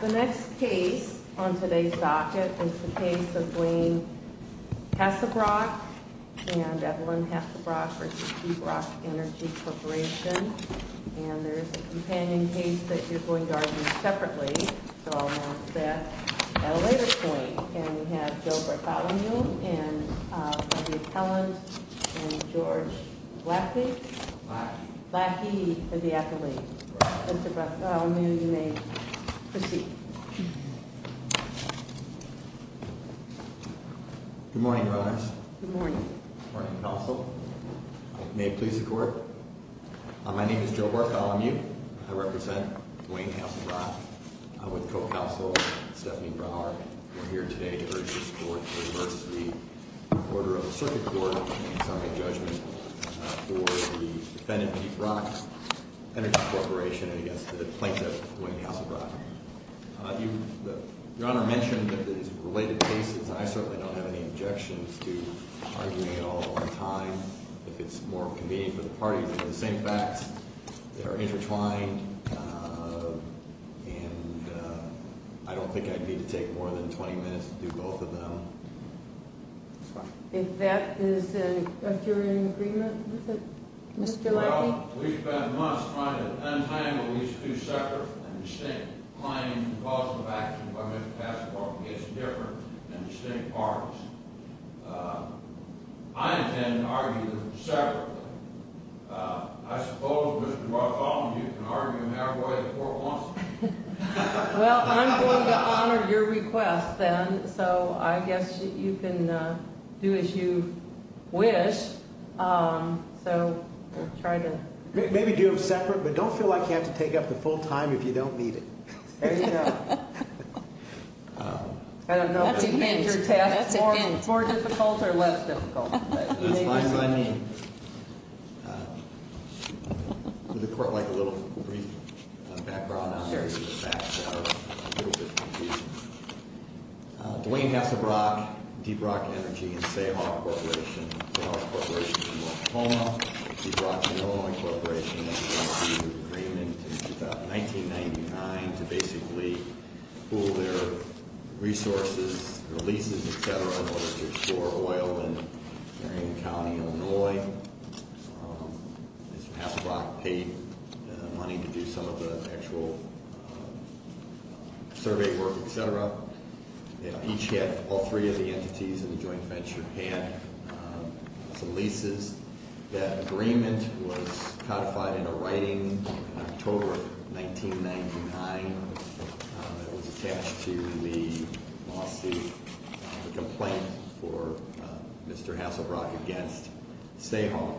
The next case on today's docket is the case of Dwayne Hassebrock and Evelyn Hassebrock v. Deep Rock Energy Corporation. And there's a companion case that you're going to argue separately, so I'll announce that at a later point. And we have Joe Bartholomew and the appellant and George Lackey. Lackey. Lackey is the athlete. Mr. Bartholomew, you may proceed. Good morning, Your Honors. Good morning. Good morning, Counsel. May it please the Court. My name is Joe Bartholomew. I represent Dwayne Hassebrock with co-counsel Stephanie Brower. We're here today to urge this Court to reverse the order of the circuit court in summary judgment for the defendant, Deep Rock Energy Corporation, and against the plaintiff, Dwayne Hassebrock. Your Honor mentioned that there's related cases. I certainly don't have any objections to arguing it all at one time if it's more convenient for the parties. They're the same facts. They're intertwined. And I don't think I'd need to take more than 20 minutes to do both of them. If that is in – if you're in agreement with it, Mr. Lackey. Well, we've spent months trying to untangle these two separate and distinct claims and causes of action by Mr. Hassebrock against different and distinct parties. I intend to argue them separately. I suppose, Mr. Bartholomew, you can argue them halfway if the Court wants to. Well, I'm going to honor your request then, so I guess you can do as you wish. So we'll try to – Maybe do them separate, but don't feel like you have to take up the full time if you don't need it. There you go. I don't know. That's a hint. That's a hint. More difficult or less difficult? That's fine by me. Would the Court like a little brief background on the various facts that are a little bit confusing? Dwayne Hassebrock, Deep Rock Energy, and Sayhawk Corporation. Dwayne Hassebrock, Deep Rock Energy, and Sayhawk Corporation from Oklahoma. Deep Rock is an Illinois corporation that came to an agreement in about 1999 to basically pool their resources, their leases, et cetera, in order to explore oil in Marion County, Illinois. Mr. Hassebrock paid money to do some of the actual survey work, et cetera. All three of the entities in the joint venture had some leases. That agreement was codified in a writing in October 1999 that was attached to the lawsuit, the complaint for Mr. Hassebrock against Sayhawk.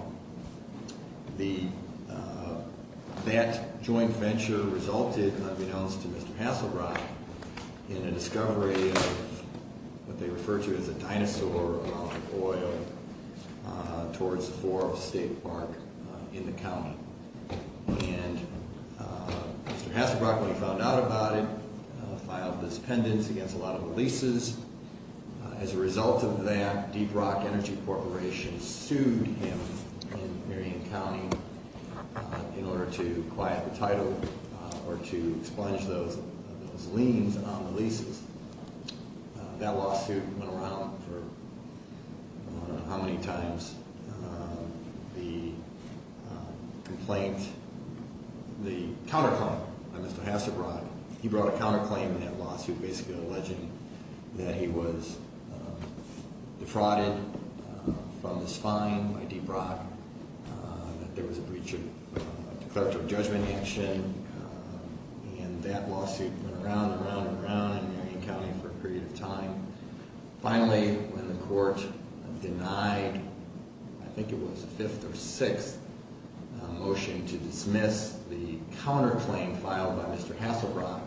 That joint venture resulted, unbeknownst to Mr. Hassebrock, in a discovery of what they refer to as a dinosaur amount of oil towards the floor of a state park in the county. Mr. Hassebrock, when he found out about it, filed this pendant against a lot of the leases. As a result of that, Deep Rock Energy Corporation sued him in Marion County in order to quiet the title or to expunge those liens on the leases. That lawsuit went around for I don't know how many times. The complaint, the counterclaim by Mr. Hassebrock, he brought a counterclaim in that lawsuit basically alleging that he was defrauded from this fine by Deep Rock, that there was a breach of declaratory judgment action, and that lawsuit went around and around and around in Marion County for a period of time. Finally, when the court denied, I think it was the fifth or sixth motion to dismiss the counterclaim filed by Mr. Hassebrock,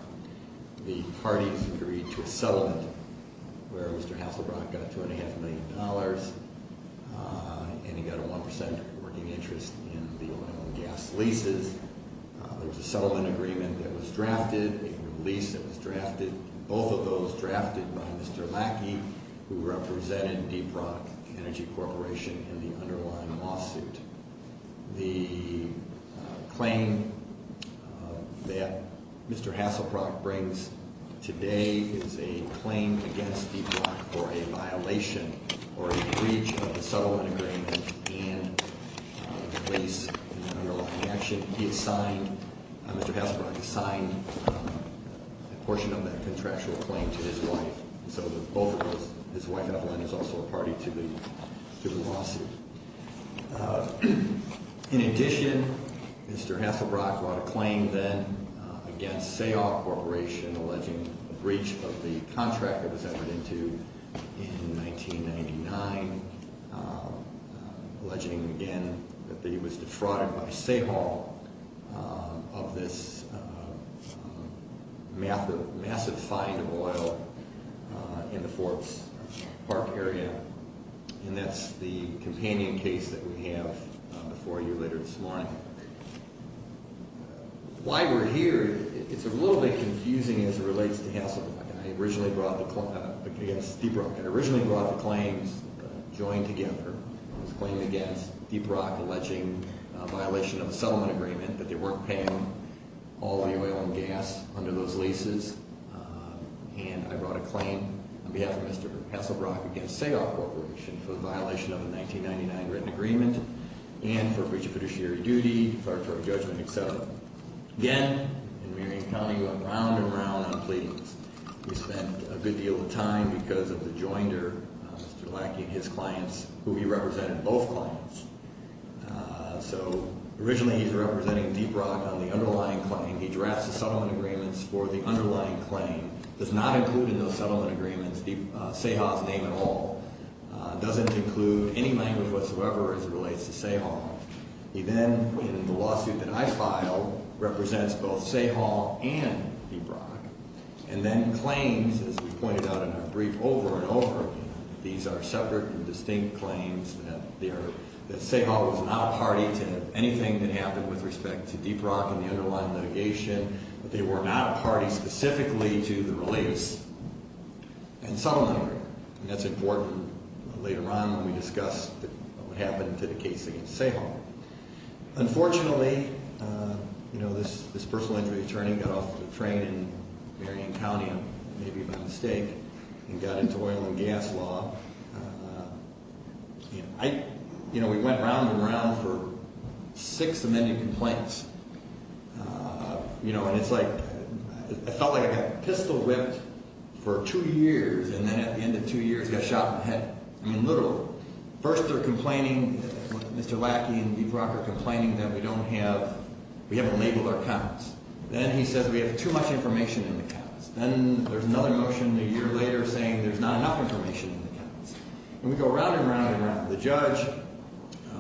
the parties agreed to a settlement where Mr. Hassebrock got $2.5 million and he got a 1% working interest in the oil and gas leases. There was a settlement agreement that was drafted, a lease that was drafted, both of those drafted by Mr. Lackey, who represented Deep Rock Energy Corporation in the underlying lawsuit. The claim that Mr. Hassebrock brings today is a claim against Deep Rock for a violation or a breach of the settlement agreement and a lease in the underlying action. Mr. Hassebrock signed a portion of that contractual claim to his wife. So both of those, his wife Evelyn is also a party to the lawsuit. In addition, Mr. Hassebrock brought a claim then against Sahal Corporation alleging a breach of the contract that was entered into in 1999, alleging again that he was defrauded by Sahal of this massive find of oil in the Forbes Park area and that's the companion case that we have before you later this morning. Why we're here, it's a little bit confusing as it relates to Hassebrock. I originally brought the claims, joined together. I was claiming against Deep Rock alleging a violation of a settlement agreement, but they weren't paying all the oil and gas under those leases. And I brought a claim on behalf of Mr. Hassebrock against Sahal Corporation for the violation of a 1999 written agreement and for breach of fiduciary duty, declaratory judgment, etc. Again, in Marion County, we went round and round on pleadings. We spent a good deal of time because of the joinder, Mr. Lackey, and his clients who he represented, both clients. So, originally he's representing Deep Rock on the underlying claim. He drafts the settlement agreements for the underlying claim. Does not include in those settlement agreements Sahal's name at all. Doesn't include any language whatsoever as it relates to Sahal. He then, in the lawsuit that I filed, represents both Sahal and Deep Rock. And then claims, as we pointed out in our brief, over and over again. These are separate and distinct claims that Sahal was not a party to anything that happened with respect to Deep Rock and the underlying litigation. They were not a party specifically to the release and settlement agreement. And that's important later on when we discuss what happened to the case against Sahal. Unfortunately, this personal injury attorney got off the train in Marion County, maybe by mistake, and got into oil and gas law. We went round and round for six amended complaints. And it's like, I felt like I got pistol whipped for two years and then at the end of two years got shot in the head. I mean, literally. First they're complaining, Mr. Lackey and Deep Rock are complaining that we don't have, we haven't labeled our accounts. Then he says we have too much information in the accounts. Then there's another motion a year later saying there's not enough information in the accounts. And we go round and round and round. The judge,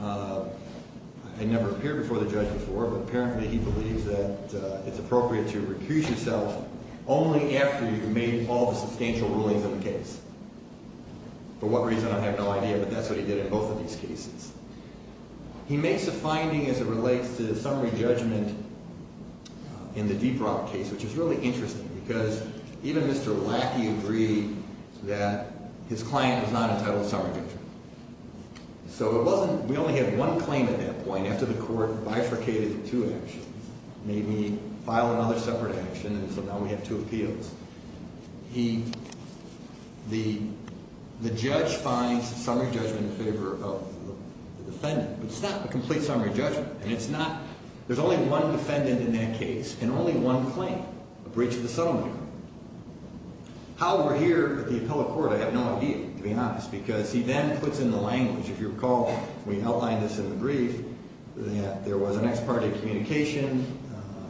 I never appeared before the judge before, but apparently he believes that it's appropriate to recuse yourself only after you've made all the substantial rulings of the case. For what reason, I have no idea, but that's what he did in both of these cases. He makes a finding as it relates to summary judgment in the Deep Rock case, which is really interesting. Because even Mr. Lackey agreed that his client was not entitled to summary judgment. So it wasn't, we only had one claim at that point after the court bifurcated two actions. Made me file another separate action and so now we have two appeals. He, the judge finds summary judgment in favor of the defendant. It's not a complete summary judgment. And it's not, there's only one defendant in that case and only one claim, a breach of the summary. How we're here at the appellate court, I have no idea to be honest. Because he then puts in the language, if you recall, we outlined this in the brief, that there was an ex parte communication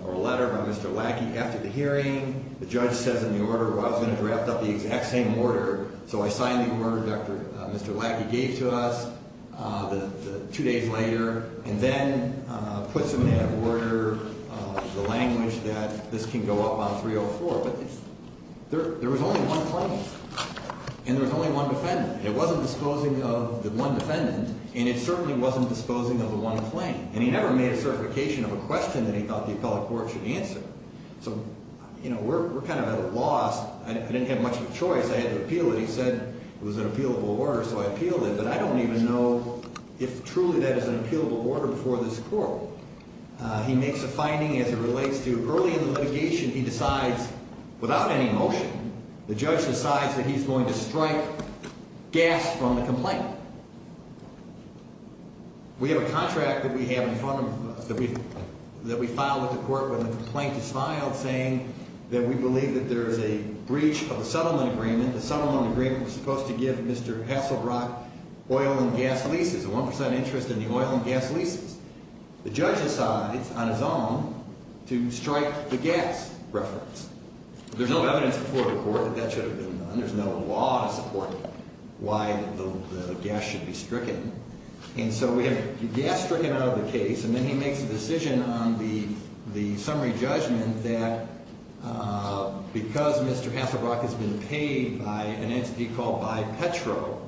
or a letter by Mr. Lackey. After the hearing, the judge says in the order, well, I was going to draft up the exact same order. So I signed the order Mr. Lackey gave to us two days later. And then puts in that order the language that this can go up on 304. But there was only one claim and there was only one defendant. It wasn't disposing of the one defendant and it certainly wasn't disposing of the one claim. And he never made a certification of a question that he thought the appellate court should answer. So, you know, we're kind of at a loss. I didn't have much of a choice. I had to appeal it. He said it was an appealable order so I appealed it. But I don't even know if truly that is an appealable order before this court. He makes a finding as it relates to early in the litigation he decides without any motion, the judge decides that he's going to strike gas from the complaint. We have a contract that we have in front of us that we filed with the court when the complaint is filed saying that we believe that there is a breach of the settlement agreement. The settlement agreement was supposed to give Mr. Hasselbrock oil and gas leases, a 1% interest in the oil and gas leases. The judge decides on his own to strike the gas reference. There's no evidence before the court that that should have been done. There's no law to support why the gas should be stricken. And so we have gas stricken out of the case and then he makes a decision on the summary judgment that because Mr. Hasselbrock has been paid by an entity called BiPetro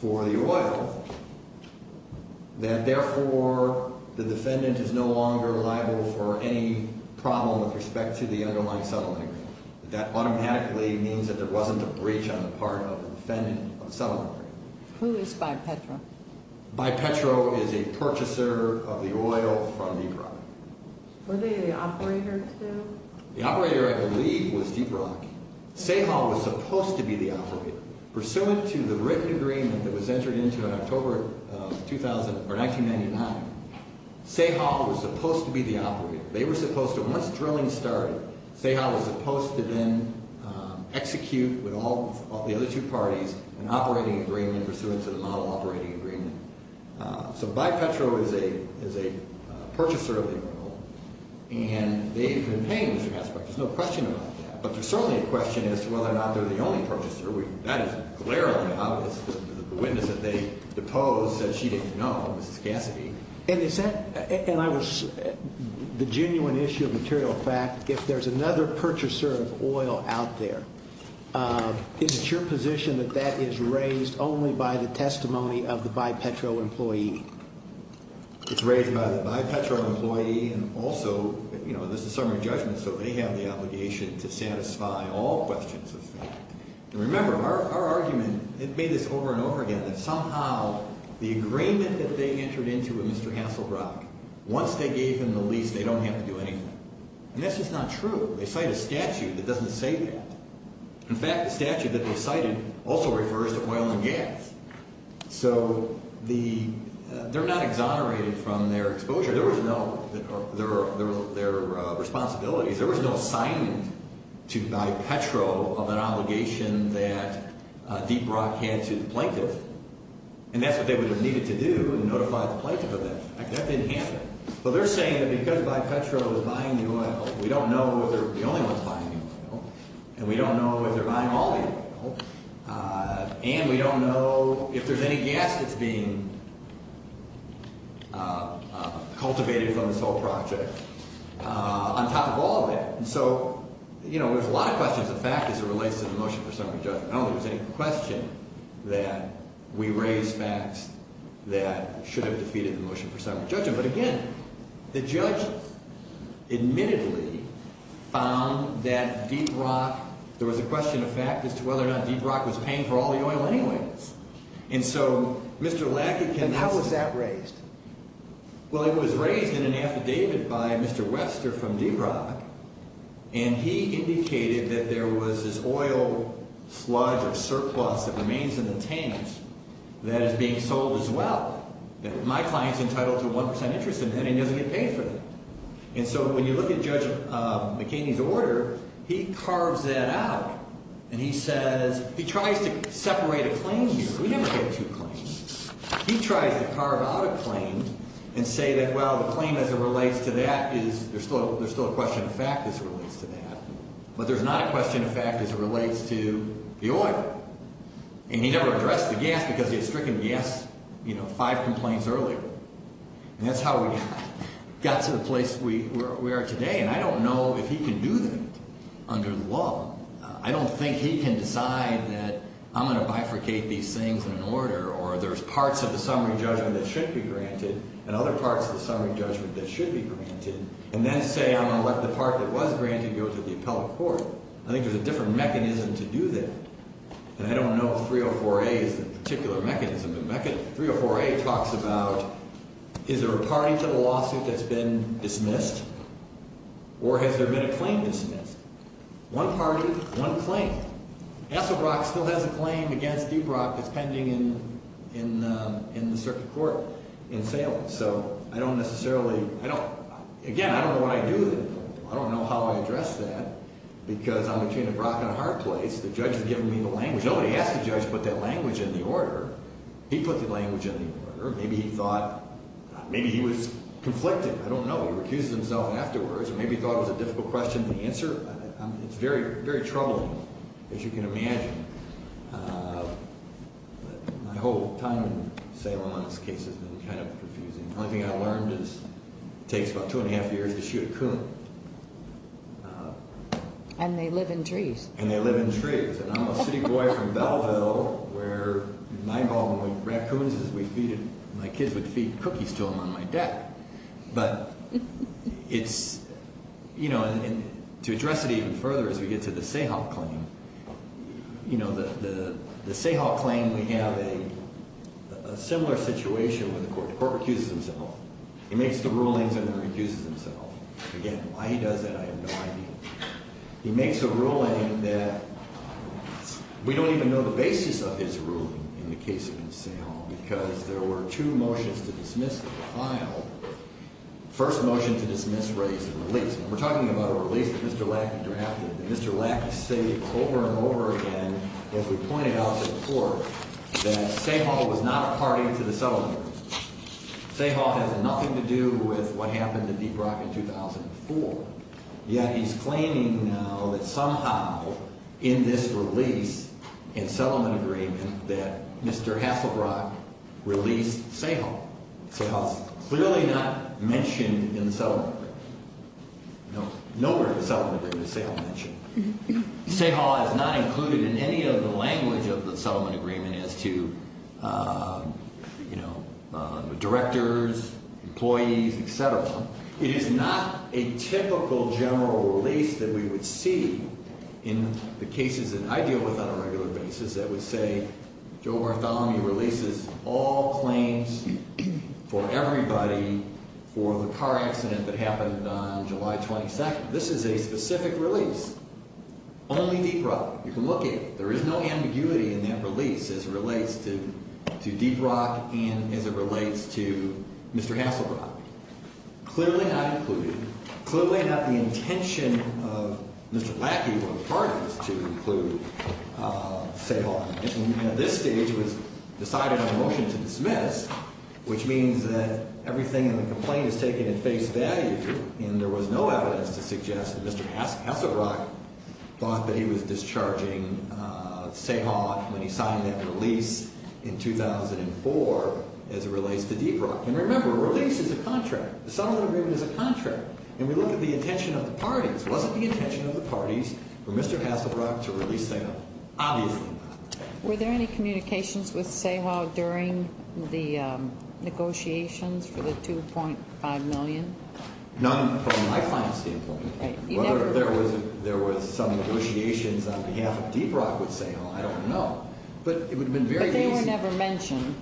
for the oil, that therefore the defendant is no longer liable for any problem with respect to the underlying settlement agreement. That automatically means that there wasn't a breach on the part of the defendant of the settlement agreement. Who is BiPetro? BiPetro is a purchaser of the oil from Deep Rock. Were they the operator, too? The operator, I believe, was Deep Rock. Sahal was supposed to be the operator. Pursuant to the written agreement that was entered into in October 1999, Sahal was supposed to be the operator. They were supposed to, once drilling started, Sahal was supposed to then execute with all the other two parties an operating agreement pursuant to the model operating agreement. So BiPetro is a purchaser of the oil and they've been paying Mr. Hasselbrock. There's no question about that. But there's certainly a question as to whether or not they're the only purchaser. That is clearly obvious. The witness that they deposed said she didn't know, Mrs. Cassidy. And is that, and I was, the genuine issue of material fact, if there's another purchaser of oil out there, is it your position that that is raised only by the testimony of the BiPetro employee? It's raised by the BiPetro employee and also, you know, this is summary judgment, so they have the obligation to satisfy all questions of fact. And remember, our argument, it made this over and over again, that somehow the agreement that they entered into with Mr. Hasselbrock, once they gave him the lease, they don't have to do anything. And that's just not true. They cite a statute that doesn't say that. In fact, the statute that they cited also refers to oil and gas. So the, they're not exonerated from their exposure. There was no, their responsibilities, there was no sign to BiPetro of an obligation that Deep Rock had to the plaintiff. And that's what they would have needed to do, notify the plaintiff of that. That didn't happen. Well, they're saying that because BiPetro is buying the oil, we don't know if they're the only ones buying the oil, and we don't know if they're buying all the oil. And we don't know if there's any gas that's being cultivated from this whole project on top of all that. And so, you know, there's a lot of questions of fact as it relates to the motion for summary judgment. I don't think there's any question that we raise facts that should have defeated the motion for summary judgment. But again, the judge admittedly found that Deep Rock, there was a question of fact as to whether or not Deep Rock was paying for all the oil anyways. And so, Mr. Lackadance. And how was that raised? Well, it was raised in an affidavit by Mr. Wester from Deep Rock. And he indicated that there was this oil sludge or surplus that remains in the tanks that is being sold as well. That my client's entitled to 1% interest in that and doesn't get paid for that. And so, when you look at Judge McKinney's order, he carves that out and he says, he tries to separate a claim here. We never get two claims. He tries to carve out a claim and say that, well, the claim as it relates to that is there's still a question of fact as it relates to that. But there's not a question of fact as it relates to the oil. And he never addressed the gas because he had stricken gas, you know, five complaints earlier. And that's how we got to the place we are today. And I don't know if he can do that under the law. I don't think he can decide that I'm going to bifurcate these things in an order or there's parts of the summary judgment that should be granted and other parts of the summary judgment that should be granted. And then say I'm going to let the part that was granted go to the appellate court. I think there's a different mechanism to do that. And I don't know if 304A is the particular mechanism. But 304A talks about is there a party to the lawsuit that's been dismissed or has there been a claim dismissed? One party, one claim. Esselbrock still has a claim against Ebrock that's pending in the circuit court in Salem. So I don't necessarily, I don't, again, I don't know what I do. I don't know how I address that because I'm between Ebrock and a hard place. The judge has given me the language. Nobody asked the judge to put that language in the order. He put the language in the order. Maybe he thought, maybe he was conflicted. I don't know. He recused himself afterwards. Maybe he thought it was a difficult question to answer. It's very troubling, as you can imagine. My whole time in Salem on this case has been kind of confusing. The only thing I learned is it takes about two and a half years to shoot a coon. And they live in trees. And they live in trees. And I'm a city boy from Belleville where in my home we had raccoons as we feeded, my kids would feed cookies to them on my deck. But it's, you know, to address it even further as we get to the Sahal claim, you know, the Sahal claim, we have a similar situation where the court recuses himself. He makes the rulings and then recuses himself. Again, why he does that I have no idea. He makes a ruling that we don't even know the basis of his ruling in the case of the Sahal because there were two motions to dismiss the file. The first motion to dismiss raised a release. We're talking about a release that Mr. Lackley drafted. Mr. Lackley stated over and over again, as we pointed out before, that Sahal was not a party to the settlement agreement. Sahal has nothing to do with what happened to Deep Rock in 2004. Yet he's claiming now that somehow in this release in settlement agreement that Mr. Hasselbrock released Sahal. Sahal's clearly not mentioned in the settlement agreement. Nowhere in the settlement agreement is Sahal mentioned. Sahal is not included in any of the language of the settlement agreement as to, you know, directors, employees, et cetera. It is not a typical general release that we would see in the cases that I deal with on a regular basis that would say, Joe Bartholomew releases all claims for everybody for the car accident that happened on July 22nd. This is a specific release. Only Deep Rock. You can look at it. There is no ambiguity in that release as it relates to Deep Rock and as it relates to Mr. Hasselbrock. Clearly not included. Clearly not the intention of Mr. Lackley or the parties to include Sahal. At this stage it was decided on a motion to dismiss, which means that everything in the complaint is taken at face value. And there was no evidence to suggest that Mr. Hasselbrock thought that he was discharging Sahal when he signed that release in 2004 as it relates to Deep Rock. And remember, a release is a contract. The settlement agreement is a contract. It wasn't the intention of the parties for Mr. Hasselbrock to release Sahal. Obviously not. Were there any communications with Sahal during the negotiations for the $2.5 million? None from my client's standpoint. Whether there was some negotiations on behalf of Deep Rock with Sahal, I don't know. But it would have been very easy. But they were never mentioned.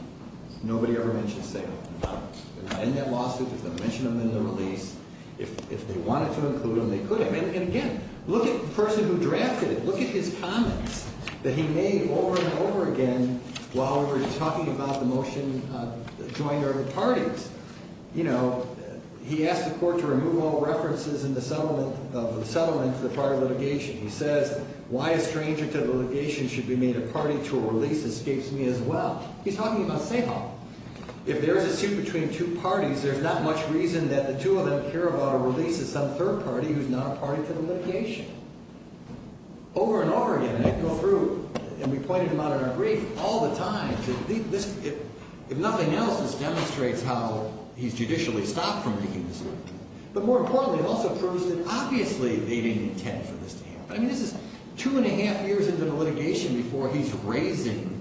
Nobody ever mentioned Sahal. In that lawsuit, if they mentioned him in the release, if they wanted to include him, they could have. And, again, look at the person who drafted it. Look at his comments that he made over and over again while we were talking about the motion, the joint or the parties. You know, he asked the court to remove all references in the settlement of the settlement for the prior litigation. He says, why a stranger to the litigation should be made a party to a release escapes me as well. He's talking about Sahal. If there's a suit between two parties, there's not much reason that the two of them care about a release of some third party who's not a party to the litigation. Over and over again, they go through, and we pointed them out in our brief all the time, that if nothing else, this demonstrates how he's judicially stopped from making this work. But, more importantly, it also proves that, obviously, they didn't intend for this to happen. I mean, this is two and a half years into the litigation before he's raising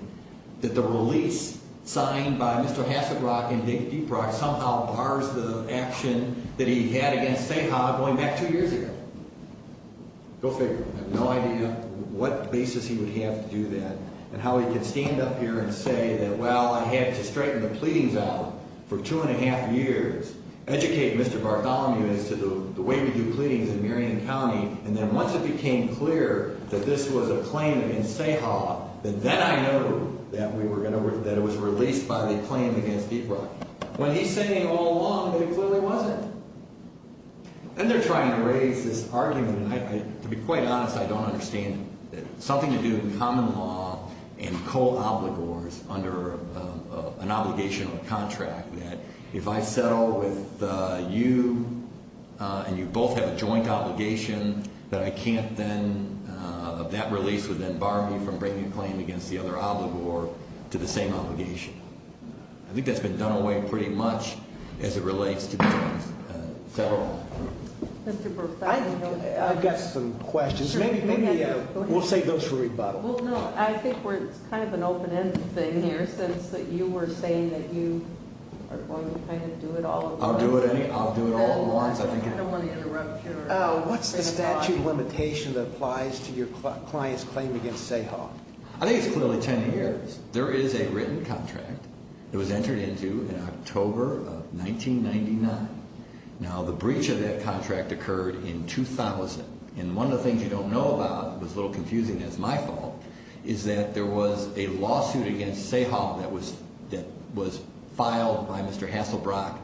that the release signed by Mr. Hasselbrock and Dick Deeprock somehow bars the action that he had against Sahal going back two years ago. Go figure. I have no idea what basis he would have to do that and how he could stand up here and say that, well, I had to straighten the pleadings out for two and a half years, educate Mr. Bartholomew as to the way we do pleadings in Marion County, and then once it became clear that this was a claim against Sahal, that then I know that it was released by the claim against Deeprock. When he's saying it all along, it clearly wasn't. And they're trying to raise this argument, and to be quite honest, I don't understand it. Something to do with common law and co-obligors under an obligation or a contract, that if I settle with you and you both have a joint obligation, that I can't then, that release would then bar me from bringing a claim against the other obligor to the same obligation. I think that's been done away pretty much as it relates to the federal law. Mr. Bartholomew. I've got some questions. Maybe we'll save those for rebuttal. Well, no, I think it's kind of an open-ended thing here since you were saying that you are going to kind of do it all along. I'll do it all along. I don't want to interrupt you. What's the statute limitation that applies to your client's claim against Sahal? I think it's clearly 10 years. There is a written contract that was entered into in October of 1999. Now, the breach of that contract occurred in 2000, and one of the things you don't know about, it was a little confusing, and it's my fault, is that there was a lawsuit against Sahal that was filed by Mr. Hasselbrock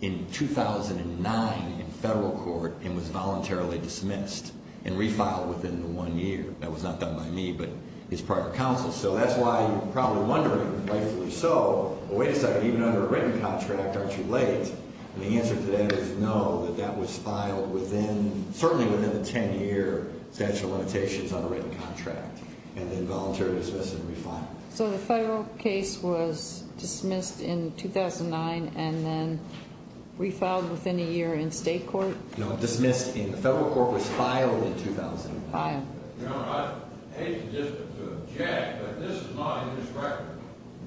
in 2009 in federal court and was voluntarily dismissed and refiled within the one year. That was not done by me, but it's prior counsel. So that's why you're probably wondering, rightfully so, well, wait a second, even under a written contract, aren't you late? And the answer to that is no, that that was filed within, certainly within a 10-year statute of limitations on a written contract and then voluntarily dismissed and refiled. So the federal case was dismissed in 2009 and then refiled within a year in state court? No, dismissed in federal court was filed in 2009. Filed. You know, I hate to just object, but this is not in this record.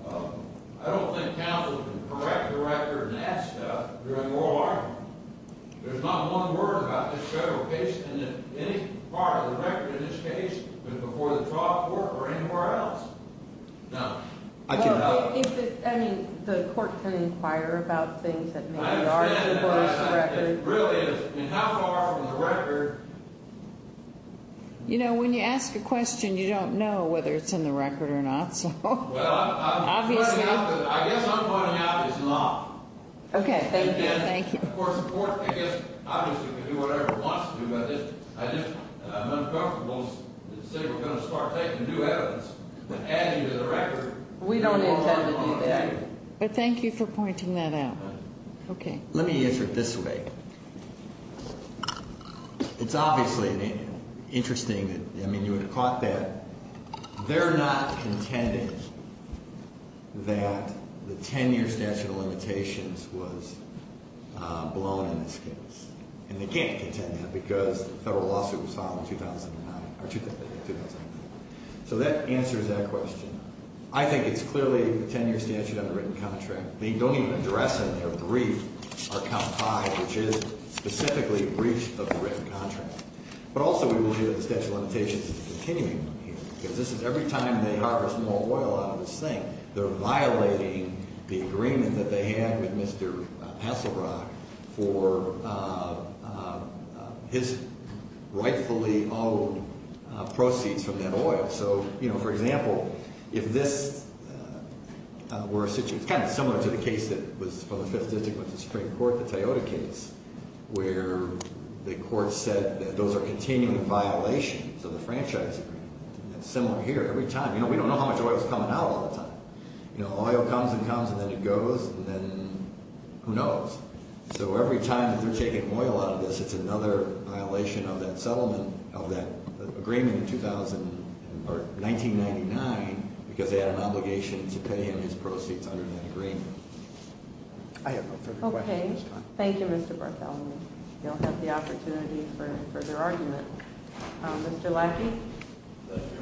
I don't think counsel can correct the record and that stuff during oral argument. There's not one word about this federal case and that any part of the record in this case was before the trial court or anywhere else. Now, I can help. Well, I mean, the court can inquire about things that maybe are before this record. I understand that. It really is. I mean, how far from the record? You know, when you ask a question, you don't know whether it's in the record or not, so. Well, I'm pointing out that I guess I'm pointing out it's not. Okay. Thank you. Of course, the court, I guess, obviously, can do whatever it wants to, but I just am uncomfortable to say we're going to start taking new evidence that adds you to the record. We don't intend to do that. But thank you for pointing that out. Okay. Let me answer it this way. It's obviously interesting. I mean, you would have caught that. They're not contending that the 10-year statute of limitations was blown in this case. And they can't contend that because the federal lawsuit was filed in 2009. So that answers that question. I think it's clearly the 10-year statute on the written contract. They don't even address in their brief our count five, which is specifically breach of the written contract. But also we will hear the statute of limitations is a continuing one here. Because this is every time they harvest more oil out of this thing, they're violating the agreement that they had with Mr. Passelbrock for his rightfully owed proceeds from that oil. So, you know, for example, if this were a situation, it's kind of similar to the case that was from the Fifth District with the Supreme Court, the Toyota case, where the court said that those are continuing violations of the franchise agreement. It's similar here. Every time. You know, we don't know how much oil is coming out all the time. You know, oil comes and comes and then it goes and then who knows. So every time they're taking oil out of this, it's another violation of that settlement of that agreement in 2000 or 1999 because they had an obligation to pay him his proceeds under that agreement. I have no further questions at this time. Okay. Thank you, Mr. Bartholomew. You'll have the opportunity for further argument. Mr. Lackey? Thank you, Your Honor.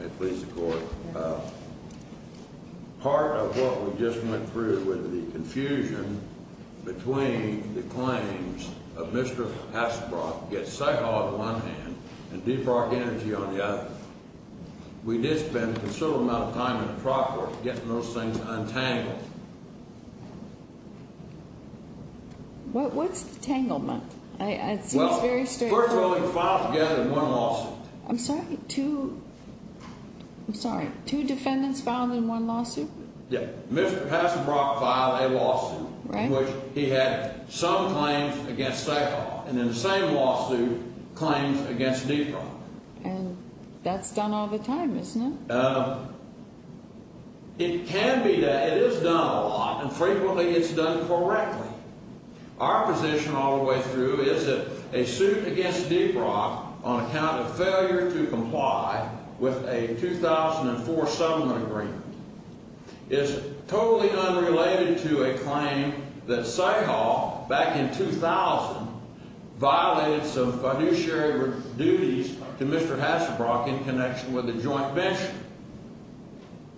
May it please the court. Part of what we just went through with the confusion between the claims of Mr. Passelbrock gets say-called on one hand and Deep Rock Energy on the other. We did spend a considerable amount of time in the trial court getting those things untangled. What's the tangle, Monk? It seems very strange. Well, first of all, we filed together one lawsuit. I'm sorry. I'm sorry. Two defendants filed in one lawsuit? Yeah. Mr. Passelbrock filed a lawsuit in which he had some claims against say-call and then the same lawsuit claims against Deep Rock. And that's done all the time, isn't it? It can be that. It is done a lot and frequently it's done correctly. Our position all the way through is that a suit against Deep Rock on account of failure to comply with a 2004 settlement agreement is totally unrelated to a claim that say-call back in 2000 violated some fiduciary duties to Mr. Passelbrock in connection with a joint venture.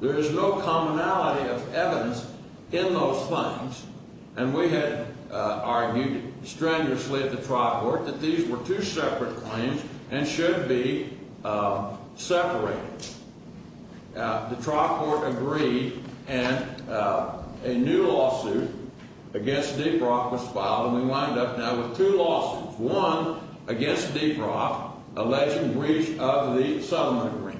There is no commonality of evidence in those claims. And we had argued strenuously at the trial court that these were two separate claims and should be separated. The trial court agreed and a new lawsuit against Deep Rock was filed and we wind up now with two lawsuits. One against Deep Rock alleging breach of the settlement agreement.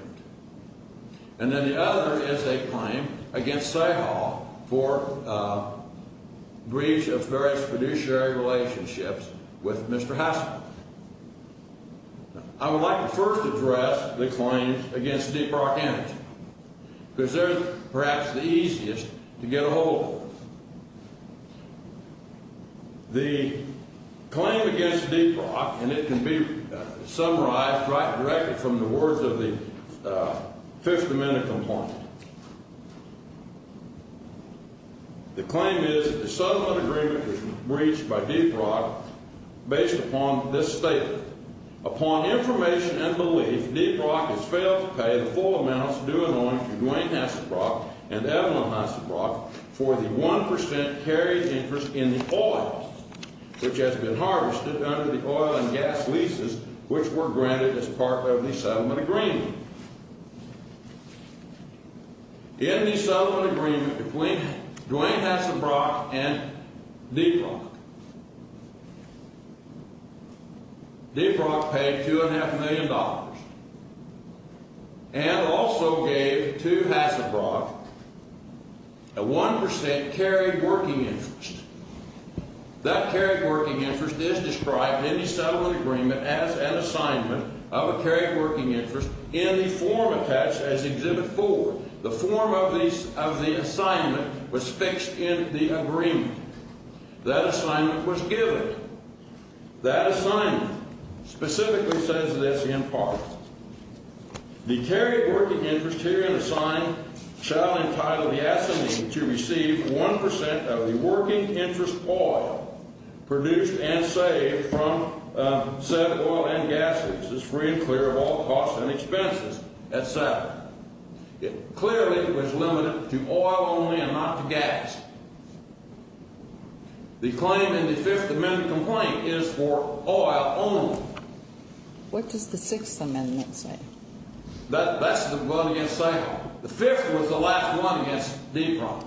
And then the other is a claim against say-call for breach of various fiduciary relationships with Mr. Passelbrock. I would like to first address the claims against Deep Rock Energy because they're perhaps the easiest to get a hold of. The claim against Deep Rock and it can be summarized right directly from the words of the Fifth Amendment complaint. The claim is that the settlement agreement was breached by Deep Rock based upon this statement. Upon information and belief, Deep Rock has failed to pay the full amounts due and owing to Duane Hasselbrock and Evelyn Hasselbrock for the 1% carriage interest in the oil which has been harvested under the oil and gas leases which were granted as part of the settlement agreement. In the settlement agreement between Duane Hasselbrock and Deep Rock, Deep Rock paid $2.5 million and also gave to Hasselbrock a 1% carried working interest. That carried working interest is described in the settlement agreement as an assignment of a carried working interest in the form attached as Exhibit 4. The form of the assignment was fixed in the agreement. That assignment was given. That assignment specifically says this in part. The carried working interest herein assigned shall entitle the assignee to receive 1% of the working interest oil produced and saved from said oil and gas leases free and clear of all costs and expenses, etc. It clearly was limited to oil only and not to gas. The claim in the Fifth Amendment complaint is for oil only. What does the Sixth Amendment say? That's the one against Seiko. The Fifth was the last one against Deep Rock.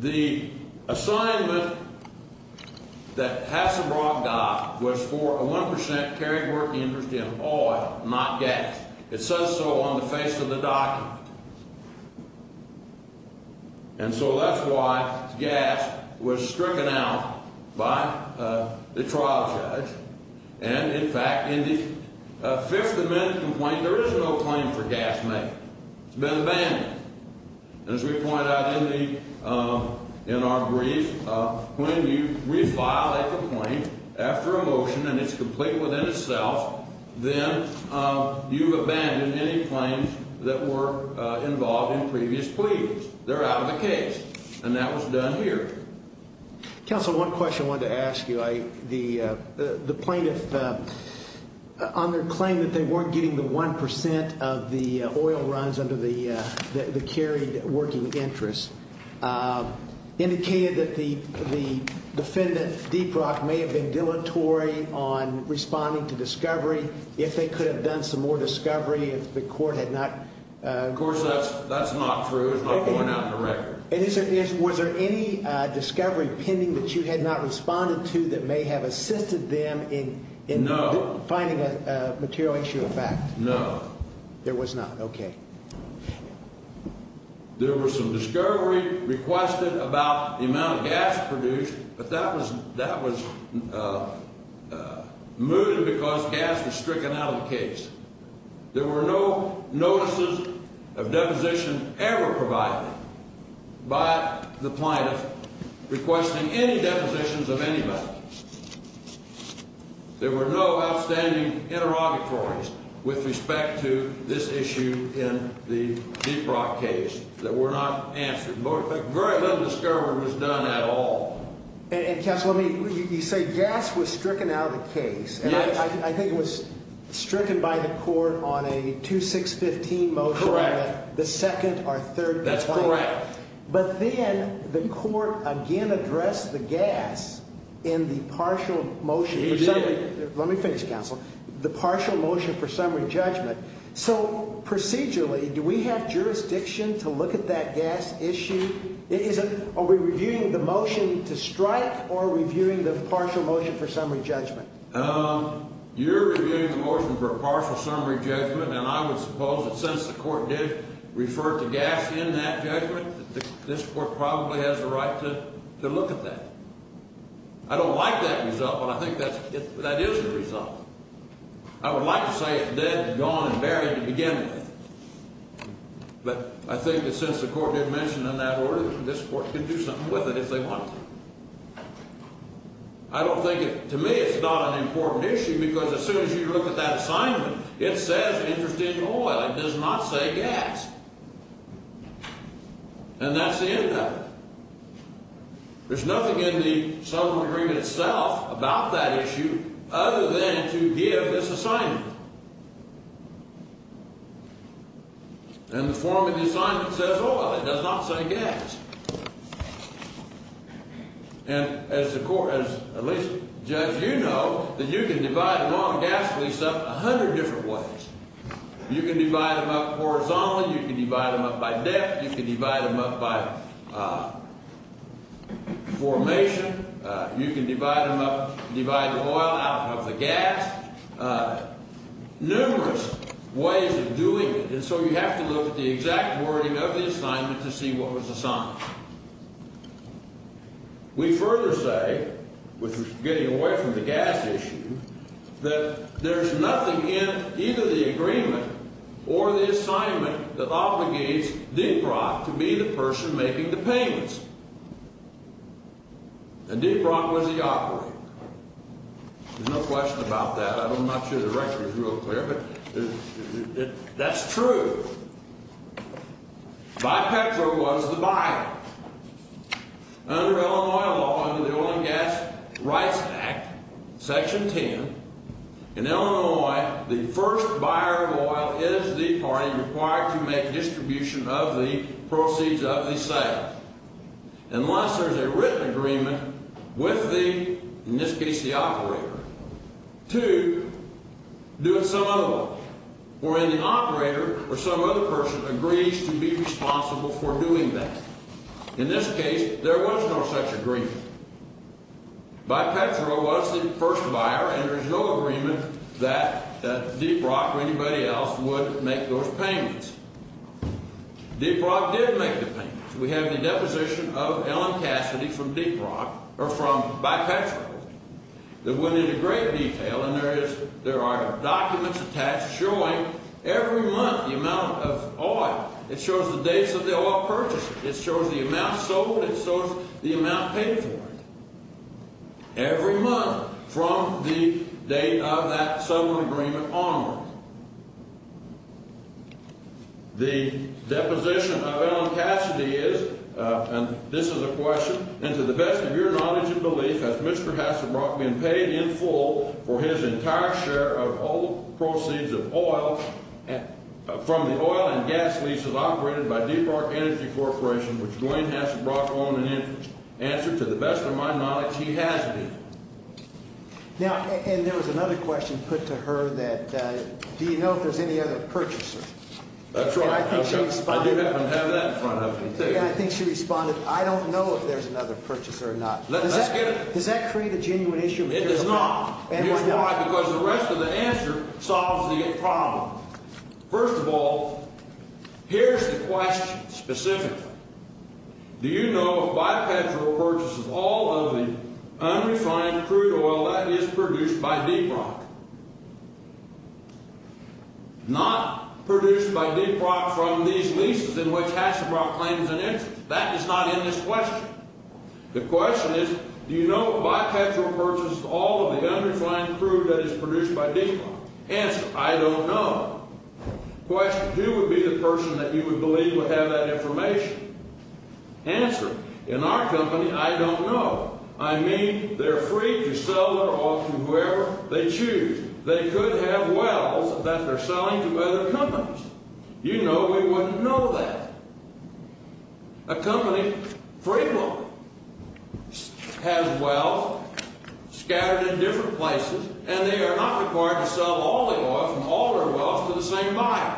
The assignment that Hasselbrock got was for a 1% carried working interest in oil, not gas. It says so on the face of the document. And so that's why gas was stricken out by the trial judge. And, in fact, in the Fifth Amendment complaint, there is no claim for gas made. It's been abandoned. As we point out in our brief, when you revile a complaint after a motion and it's complete within itself, then you've abandoned any claims that were involved in previous pleadings. They're out of the case. And that was done here. Counsel, one question I wanted to ask you. The plaintiff, on their claim that they weren't getting the 1% of the oil runs under the carried working interest, indicated that the defendant, Deep Rock, may have been dilatory on responding to discovery. If they could have done some more discovery, if the court had not… Of course, that's not true. It's not going out in the record. And was there any discovery pending that you had not responded to that may have assisted them in finding a material issue of fact? No. There was not. Okay. There was some discovery requested about the amount of gas produced, but that was moved because gas was stricken out of the case. There were no notices of deposition ever provided. By the plaintiff, requesting any depositions of anybody. There were no outstanding interrogatories with respect to this issue in the Deep Rock case that were not answered. Very little discovery was done at all. And, Counsel, you say gas was stricken out of the case. Yes. I think it was stricken by the court on a 2-6-15 motion. Correct. The second or third complaint. That's correct. But then the court again addressed the gas in the partial motion. It did. Let me finish, Counsel. The partial motion for summary judgment. So, procedurally, do we have jurisdiction to look at that gas issue? Are we reviewing the motion to strike or reviewing the partial motion for summary judgment? You're reviewing the motion for a partial summary judgment, and I would suppose that since the court did refer to gas in that judgment, this court probably has the right to look at that. I don't like that result, but I think that is the result. I would like to say it's dead, gone, and buried to begin with. But I think that since the court did mention it in that order, this court can do something with it if they want to. I don't think, to me, it's not an important issue because as soon as you look at that assignment, it says interest in oil. It does not say gas. And that's the end of it. There's nothing in the settlement agreement itself about that issue other than to give this assignment. And the form of the assignment says oil. It does not say gas. And as the court, at least, Judge, you know that you can divide an oil and gas lease up a hundred different ways. You can divide them up horizontally. You can divide them up by depth. You can divide them up by formation. You can divide them up, divide the oil out of the gas. Numerous ways of doing it, and so you have to look at the exact wording of the assignment to see what was assigned. We further say, which is getting away from the gas issue, that there's nothing in either the agreement or the assignment that obligates Deep Rock to be the person making the payments. And Deep Rock was the operator. There's no question about that. I'm not sure the record's real clear, but that's true. Bipetro was the buyer. Under Illinois law, under the Oil and Gas Rights Act, Section 10, in Illinois, the first buyer of oil is the party required to make distribution of the proceeds of the sale. Unless there's a written agreement with the, in this case, the operator, to do it some other way. Or if the operator or some other person agrees to be responsible for doing that. In this case, there was no such agreement. Bipetro was the first buyer, and there's no agreement that Deep Rock or anybody else would make those payments. Deep Rock did make the payments. We have the deposition of Ellen Cassidy from Deep Rock, or from Bipetro, that went into great detail. And there are documents attached showing every month the amount of oil. It shows the dates of the oil purchase. It shows the amount sold. It shows the amount paid for it. Every month from the date of that settlement agreement onward. The deposition of Ellen Cassidy is, and this is a question. And to the best of your knowledge and belief, has Mr. Hasselbrock been paid in full for his entire share of all the proceeds of oil from the oil and gas leases operated by Deep Rock Energy Corporation, which Dwayne Hasselbrock owned and entered? Answer, to the best of my knowledge, he has been. Now, and there was another question put to her that, do you know if there's any other purchaser? That's right. I do happen to have that in front of me, too. And I think she responded, I don't know if there's another purchaser or not. Let's get it. Does that create a genuine issue? It does not. And why not? Here's why, because the rest of the answer solves the problem. First of all, here's the question specifically. Do you know if Bipetro purchases all of the unrefined crude oil that is produced by Deep Rock? Not produced by Deep Rock from these leases in which Hasselbrock claims an interest. That is not in this question. The question is, do you know if Bipetro purchases all of the unrefined crude that is produced by Deep Rock? Answer, I don't know. Question, who would be the person that you would believe would have that information? Answer, in our company, I don't know. I mean, they're free to sell their oil to whoever they choose. They could have wells that they're selling to other companies. You know we wouldn't know that. A company, Freemont, has wells scattered in different places, and they are not required to sell all the oil from all their wells to the same buyer.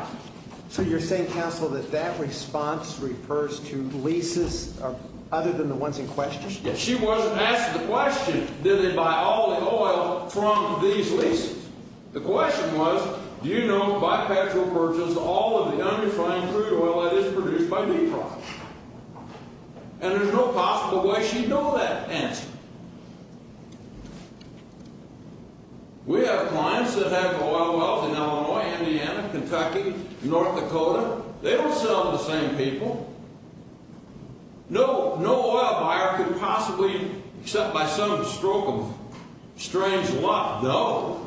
So you're saying, counsel, that that response refers to leases other than the ones in question? She wasn't asked the question, did they buy all the oil from these leases? The question was, do you know if Bipetro purchased all of the unrefined crude oil that is produced by Deep Rock? And there's no possible way she'd know that answer. We have clients that have oil wells in Illinois, Indiana, Kentucky, North Dakota. They don't sell to the same people. No oil buyer could possibly, except by some stroke of strange luck, know.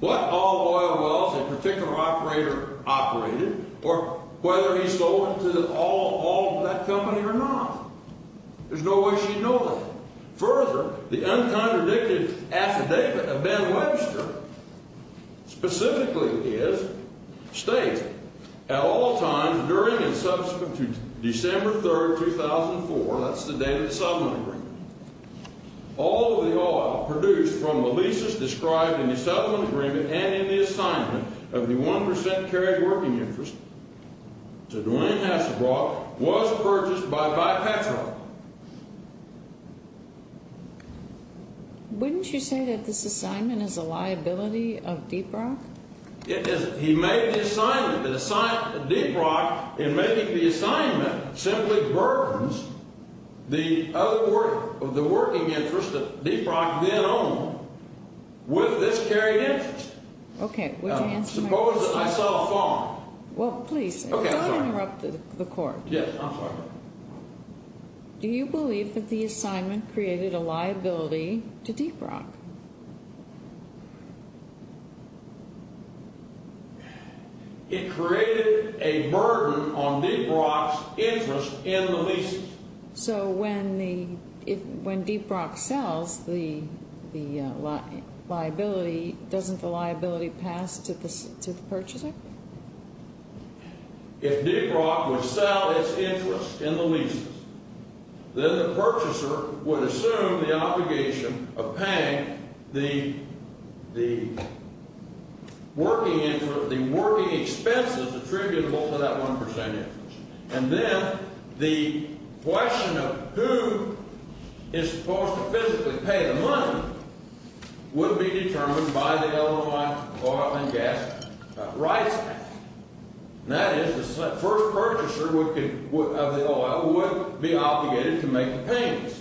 What oil wells a particular operator operated, or whether he sold it to all of that company or not. There's no way she'd know that. Further, the uncontradicted affidavit of Ben Webster, specifically his, states, at all times during and subsequent to December 3rd, 2004, that's the day of the settlement agreement, all of the oil produced from the leases described in the settlement agreement and in the assignment of the 1% carried working interest to Duane Hassebrock was purchased by Bipetro. Wouldn't you say that this assignment is a liability of Deep Rock? It isn't. He made the assignment. The assignment to Deep Rock in making the assignment simply burdens the other work, the working interest that Deep Rock then owned with this carried interest. Okay, would you answer my question? Suppose that I saw a farm. Well, please, don't interrupt the court. Yes, I'm sorry. Do you believe that the assignment created a liability to Deep Rock? It created a burden on Deep Rock's interest in the leases. So when Deep Rock sells the liability, doesn't the liability pass to the purchaser? If Deep Rock would sell its interest in the leases, then the purchaser would assume the obligation of paying the working expenses attributable to that 1% interest. And then the question of who is supposed to physically pay the money would be determined by the Illinois Oil and Gas Rights Act. That is, the first purchaser of the oil would be obligated to make the payments.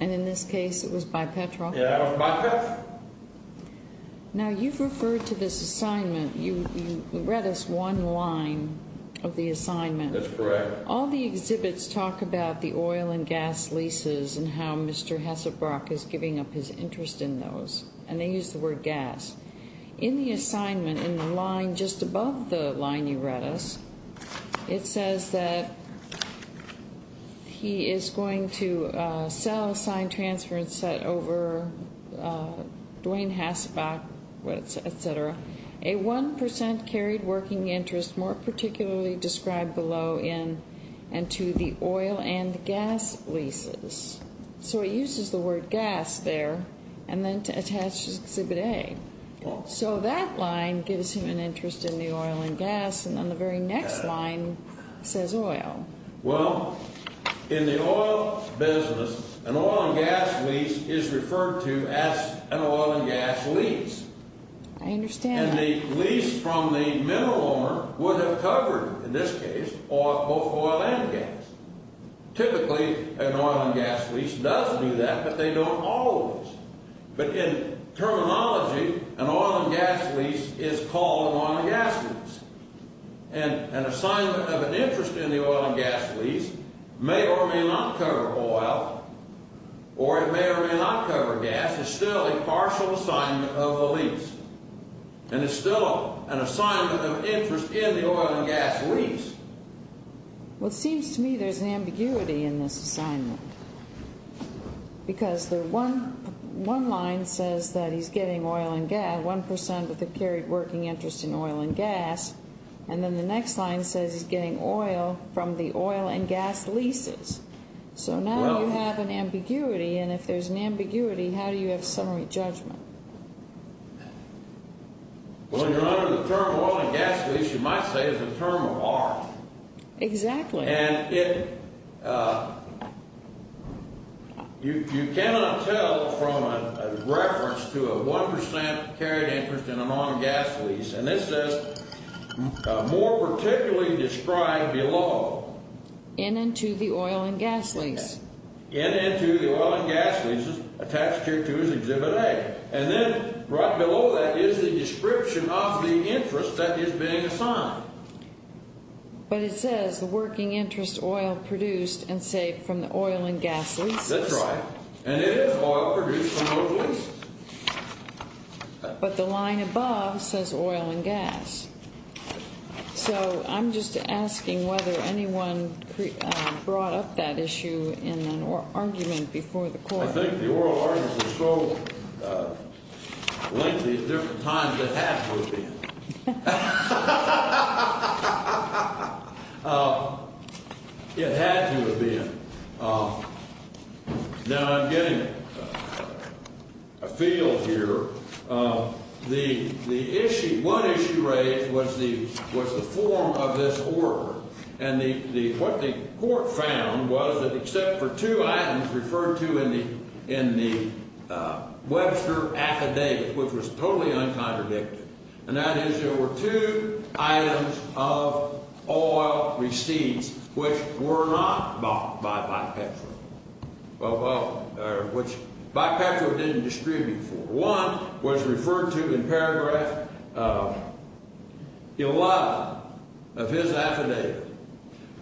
And in this case, it was Bipetro? Yeah, it was Bipetro. Now, you've referred to this assignment. You read us one line of the assignment. That's correct. All the exhibits talk about the oil and gas leases and how Mr. Hessebrock is giving up his interest in those. And they use the word gas. In the assignment, in the line just above the line you read us, it says that he is going to sell, sign, transfer, and set over Dwayne Hessebrock, et cetera, a 1% carried working interest more particularly described below in and to the oil and gas leases. So he uses the word gas there and then to attach exhibit A. So that line gives him an interest in the oil and gas. And then the very next line says oil. Well, in the oil business, an oil and gas lease is referred to as an oil and gas lease. I understand that. And the lease from the middle owner would have covered, in this case, both oil and gas. Typically, an oil and gas lease does do that, but they don't always. But in terminology, an oil and gas lease is called an oil and gas lease. And an assignment of an interest in the oil and gas lease may or may not cover oil or it may or may not cover gas. It's still a partial assignment of the lease. And it's still an assignment of interest in the oil and gas lease. Well, it seems to me there's an ambiguity in this assignment. Because one line says that he's getting oil and gas, 1% with a carried working interest in oil and gas. And then the next line says he's getting oil from the oil and gas leases. So now you have an ambiguity. And if there's an ambiguity, how do you have summary judgment? When you're under the term oil and gas lease, you might say it's a term of art. Exactly. And you cannot tell from a reference to a 1% carried interest in an oil and gas lease. And this says, more particularly described below. In and to the oil and gas lease. In and to the oil and gas leases attached here to his exhibit A. And then right below that is the description of the interest that is being assigned. But it says the working interest oil produced and saved from the oil and gas leases. That's right. And it is oil produced from those leases. But the line above says oil and gas. So I'm just asking whether anyone brought up that issue in an argument before the court. I think the oral arguments are so lengthy at different times it had to have been. It had to have been. Now I'm getting afield here. The issue, one issue raised was the form of this order. And what the court found was that except for two items referred to in the Webster affidavit, which was totally uncontradicted, and that is there were two items of oil receipts which were not bought by Bipetro. Which Bipetro didn't distribute for. One was referred to in paragraph 11 of his affidavit,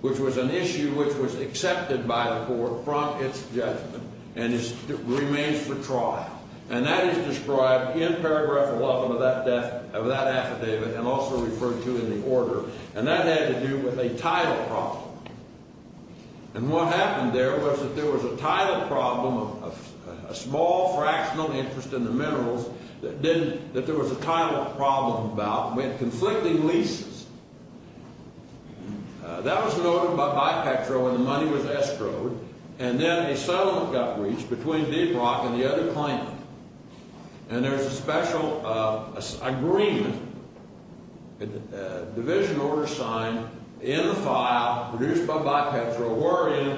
which was an issue which was accepted by the court from its judgment and remains for trial. And that is described in paragraph 11 of that affidavit and also referred to in the order. And that had to do with a title problem. And what happened there was that there was a title problem, a small fractional interest in the minerals that there was a title problem about with conflicting leases. That was noted by Bipetro and the money was escrowed. And then a settlement got reached between Deep Rock and the other claimant. And there's a special agreement, a division order signed in the file produced by Bipetro wherein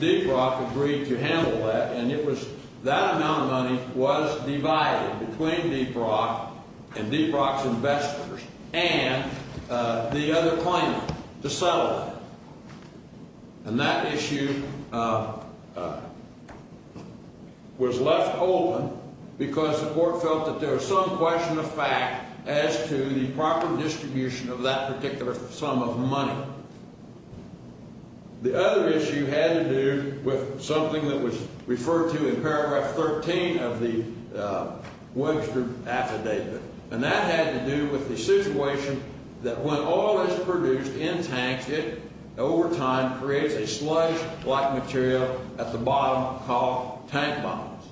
Deep Rock agreed to handle that. And it was that amount of money was divided between Deep Rock and Deep Rock's investors and the other claimant to settle that. And that issue was left open because the court felt that there was some question of fact as to the proper distribution of that particular sum of money. The other issue had to do with something that was referred to in paragraph 13 of the Webster affidavit. And that had to do with the situation that when oil is produced in tanks, it over time creates a sludge-like material at the bottom called tank bottoms.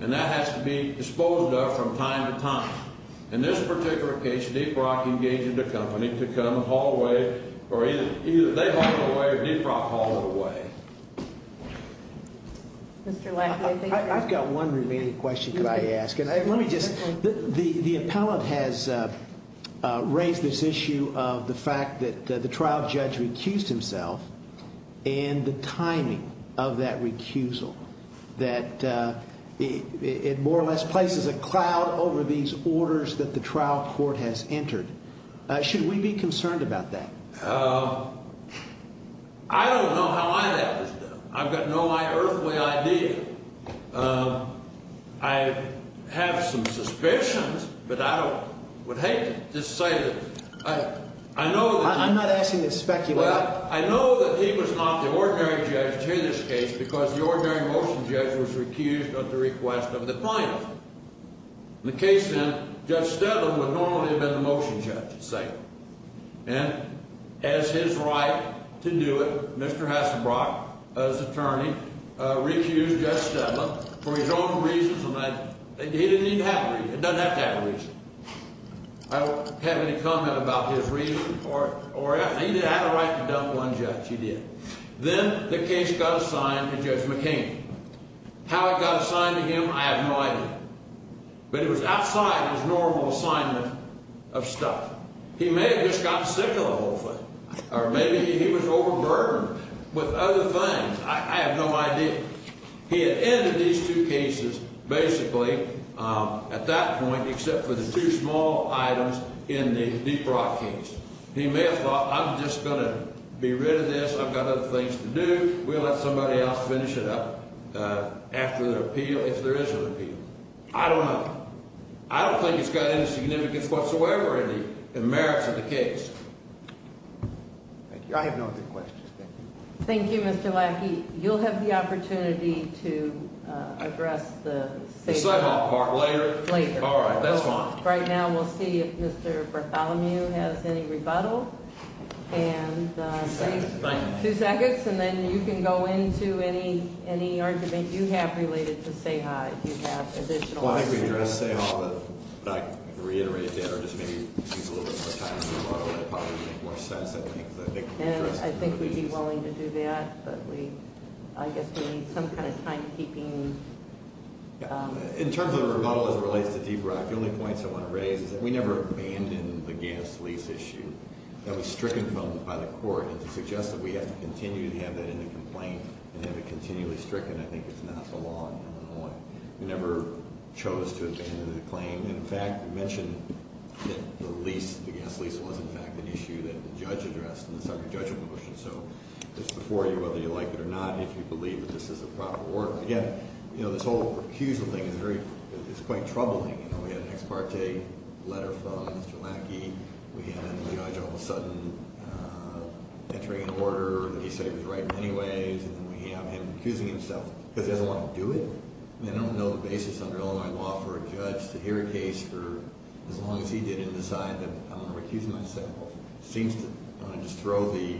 And that has to be disposed of from time to time. In this particular case, Deep Rock engaged the company to come and haul away, or either they hauled it away or Deep Rock hauled it away. Mr. Laffey, I think you're up. I've got one remaining question that I ask. Let me just, the appellant has raised this issue of the fact that the trial judge recused himself and the timing of that recusal. That it more or less places a cloud over these orders that the trial court has entered. Should we be concerned about that? I don't know how I'd have this done. I've got no earthly idea. I have some suspicions, but I don't, would hate to just say that I know that he... I'm not asking you to speculate. Well, I know that he was not the ordinary judge in this case because the ordinary motion judge was recused at the request of the plaintiff. In the case then, Judge Steadman would normally have been the motion judge, say. And as his right to do it, Mr. Hasselbrock, as attorney, recused Judge Steadman for his own reasons. He didn't even have a reason. He doesn't have to have a reason. I don't have any comment about his reason for it. He did have a right to dump one judge, he did. Then the case got assigned to Judge McCain. How it got assigned to him, I have no idea. But it was outside his normal assignment of stuff. He may have just gotten sick of it, hopefully. Or maybe he was overburdened with other things. I have no idea. He had ended these two cases, basically, at that point, except for the two small items in the Deep Rock case. He may have thought, I'm just going to be rid of this. I've got other things to do. We'll let somebody else finish it up after the appeal, if there is an appeal. I don't know. I don't think it's got any significance whatsoever in the merits of the case. Thank you. I have no other questions, thank you. Thank you, Mr. Lackey. You'll have the opportunity to address the safe- The sign-off part, later? Later. All right, that's fine. We'll have a rebuttal, and- Two seconds. Two seconds, and then you can go into any argument you have related to Seha. If you have additional- Well, I think we addressed Seha, but I could reiterate that, or just maybe use a little bit more time in the rebuttal, and it probably would make more sense, I think. And I think we'd be willing to do that, but I guess we need some kind of timekeeping. In terms of the rebuttal as it relates to Deep Rock, the only points I want to raise is that we never abandoned the gas lease issue. That was stricken by the court, and to suggest that we have to continue to have that in the complaint and have it continually stricken, I think it's not the law in Illinois. We never chose to abandon the claim. In fact, you mentioned that the lease, the gas lease, was, in fact, an issue that the judge addressed in the second judgment motion, so it's before you whether you like it or not if you believe that this is the proper order. Again, this whole recusal thing is quite troubling. We have an ex parte letter from Mr. Lackey. We have the judge all of a sudden entering an order that he said he was right in many ways, and then we have him recusing himself because he doesn't want to do it. I mean, I don't know the basis under Illinois law for a judge to hear a case for as long as he did and decide that I'm going to recuse myself. He seems to want to just throw the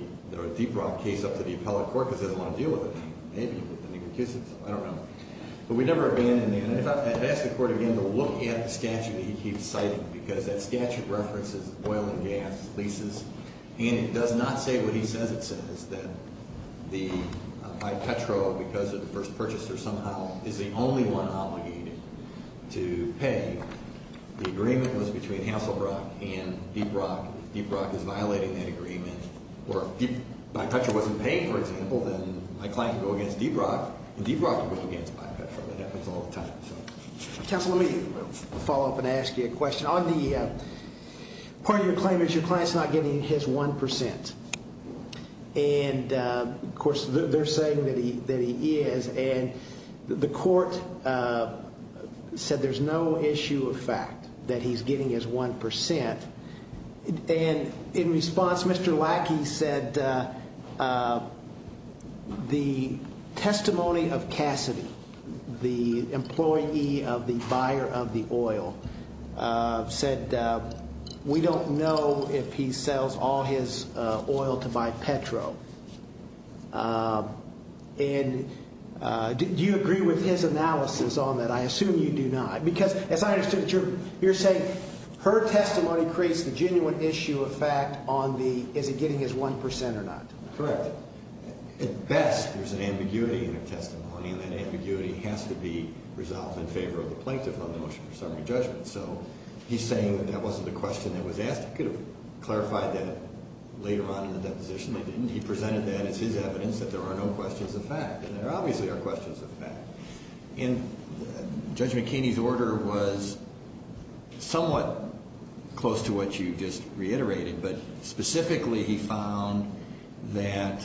Deep Rock case up to the appellate court because he doesn't want to deal with it. Maybe, but then he recuses himself. I don't know. But we never have been in there. And if I ask the court again to look at the statute that he keeps citing because that statute references oil and gas leases, and it does not say what he says it says, that I Petro, because of the first purchaser somehow, is the only one obligated to pay. The agreement was between Hasselbrock and Deep Rock. Deep Rock is violating that agreement. Or if I Petro wasn't paid, for example, then my client could go against Deep Rock, and Deep Rock could go against my Petro. It happens all the time. Counsel, let me follow up and ask you a question. On the part of your claim is your client's not getting his 1%. And, of course, they're saying that he is. And the court said there's no issue of fact that he's getting his 1%. And in response, Mr. Lackey said that the testimony of Cassidy, the employee of the buyer of the oil, said we don't know if he sells all his oil to buy Petro. And do you agree with his analysis on that? I assume you do not. Because as I understood it, you're saying her testimony creates the genuine issue of fact on the is he getting his 1% or not. Correct. At best, there's an ambiguity in her testimony, and that ambiguity has to be resolved in favor of the plaintiff on the motion for summary judgment. So he's saying that that wasn't a question that was asked. He could have clarified that later on in the deposition. He presented that as his evidence that there are no questions of fact. And there obviously are questions of fact. And Judge McKinney's order was somewhat close to what you just reiterated, but specifically he found that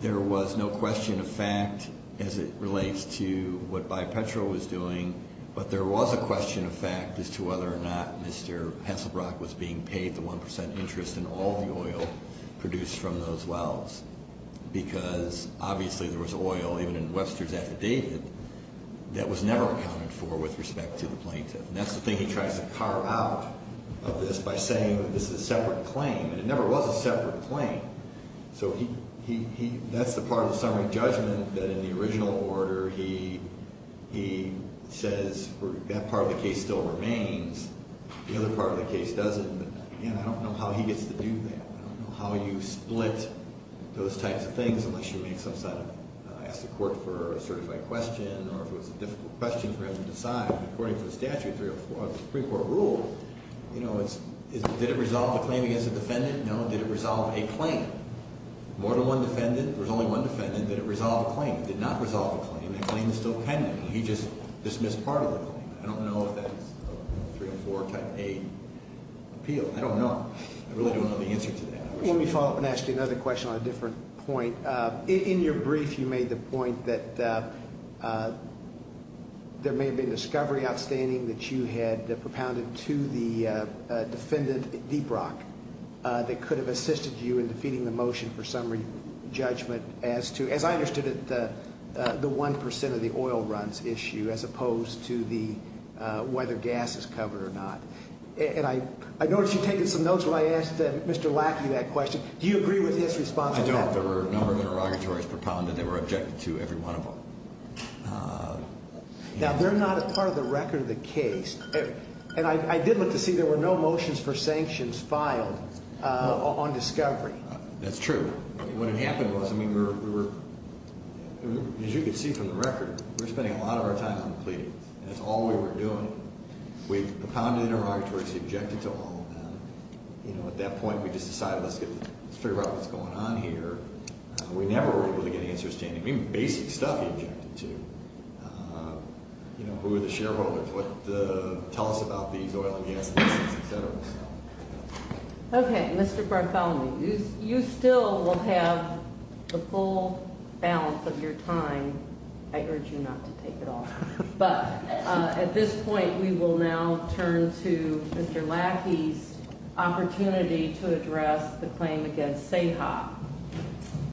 there was no question of fact as it relates to what Buy Petro was doing, but there was a question of fact as to whether or not Mr. Hasselbrock was being paid the 1% interest in all the oil produced from those wells. Because obviously there was oil, even in Webster's affidavit, that was never accounted for with respect to the plaintiff. And that's the thing he tries to carve out of this by saying this is a separate claim, and it never was a separate claim. So that's the part of the summary judgment that in the original order he says that part of the case still remains. The other part of the case doesn't. And I don't know how he gets to do that. I don't know how you split those types of things unless you ask the court for a certified question or if it was a difficult question for him to decide. According to the statute, the Supreme Court rule, did it resolve the claim against the defendant? No. Did it resolve a claim? More than one defendant, there was only one defendant. Did it resolve a claim? It did not resolve a claim. That claim is still pending. He just dismissed part of the claim. I don't know if that's a three or four type A appeal. I don't know. I really don't know the answer to that. Let me follow up and ask you another question on a different point. In your brief you made the point that there may have been a discovery outstanding that you had propounded to the defendant, Deep Rock, that could have assisted you in defeating the motion for summary judgment as to, as I understood it, the one percent of the oil runs issue as opposed to whether gas is covered or not. And I noticed you taking some notes when I asked Mr. Lackey that question. Do you agree with his response to that? I don't. There were a number of interrogatories propounded. They were objected to, every one of them. Now, they're not a part of the record of the case. And I did look to see there were no motions for sanctions filed on discovery. That's true. What had happened was, I mean, we were, as you can see from the record, we were spending a lot of our time on the plea. That's all we were doing. We propounded the interrogatories. We objected to all of them. You know, at that point we just decided let's figure out what's going on here. I mean, basic stuff we objected to. You know, who are the shareholders? Tell us about these oil and gas leases, et cetera. Okay. Mr. Bartholomew, you still will have the full balance of your time. I urge you not to take it all. But at this point, we will now turn to Mr. Lackey's opportunity to address the claim against CEHA.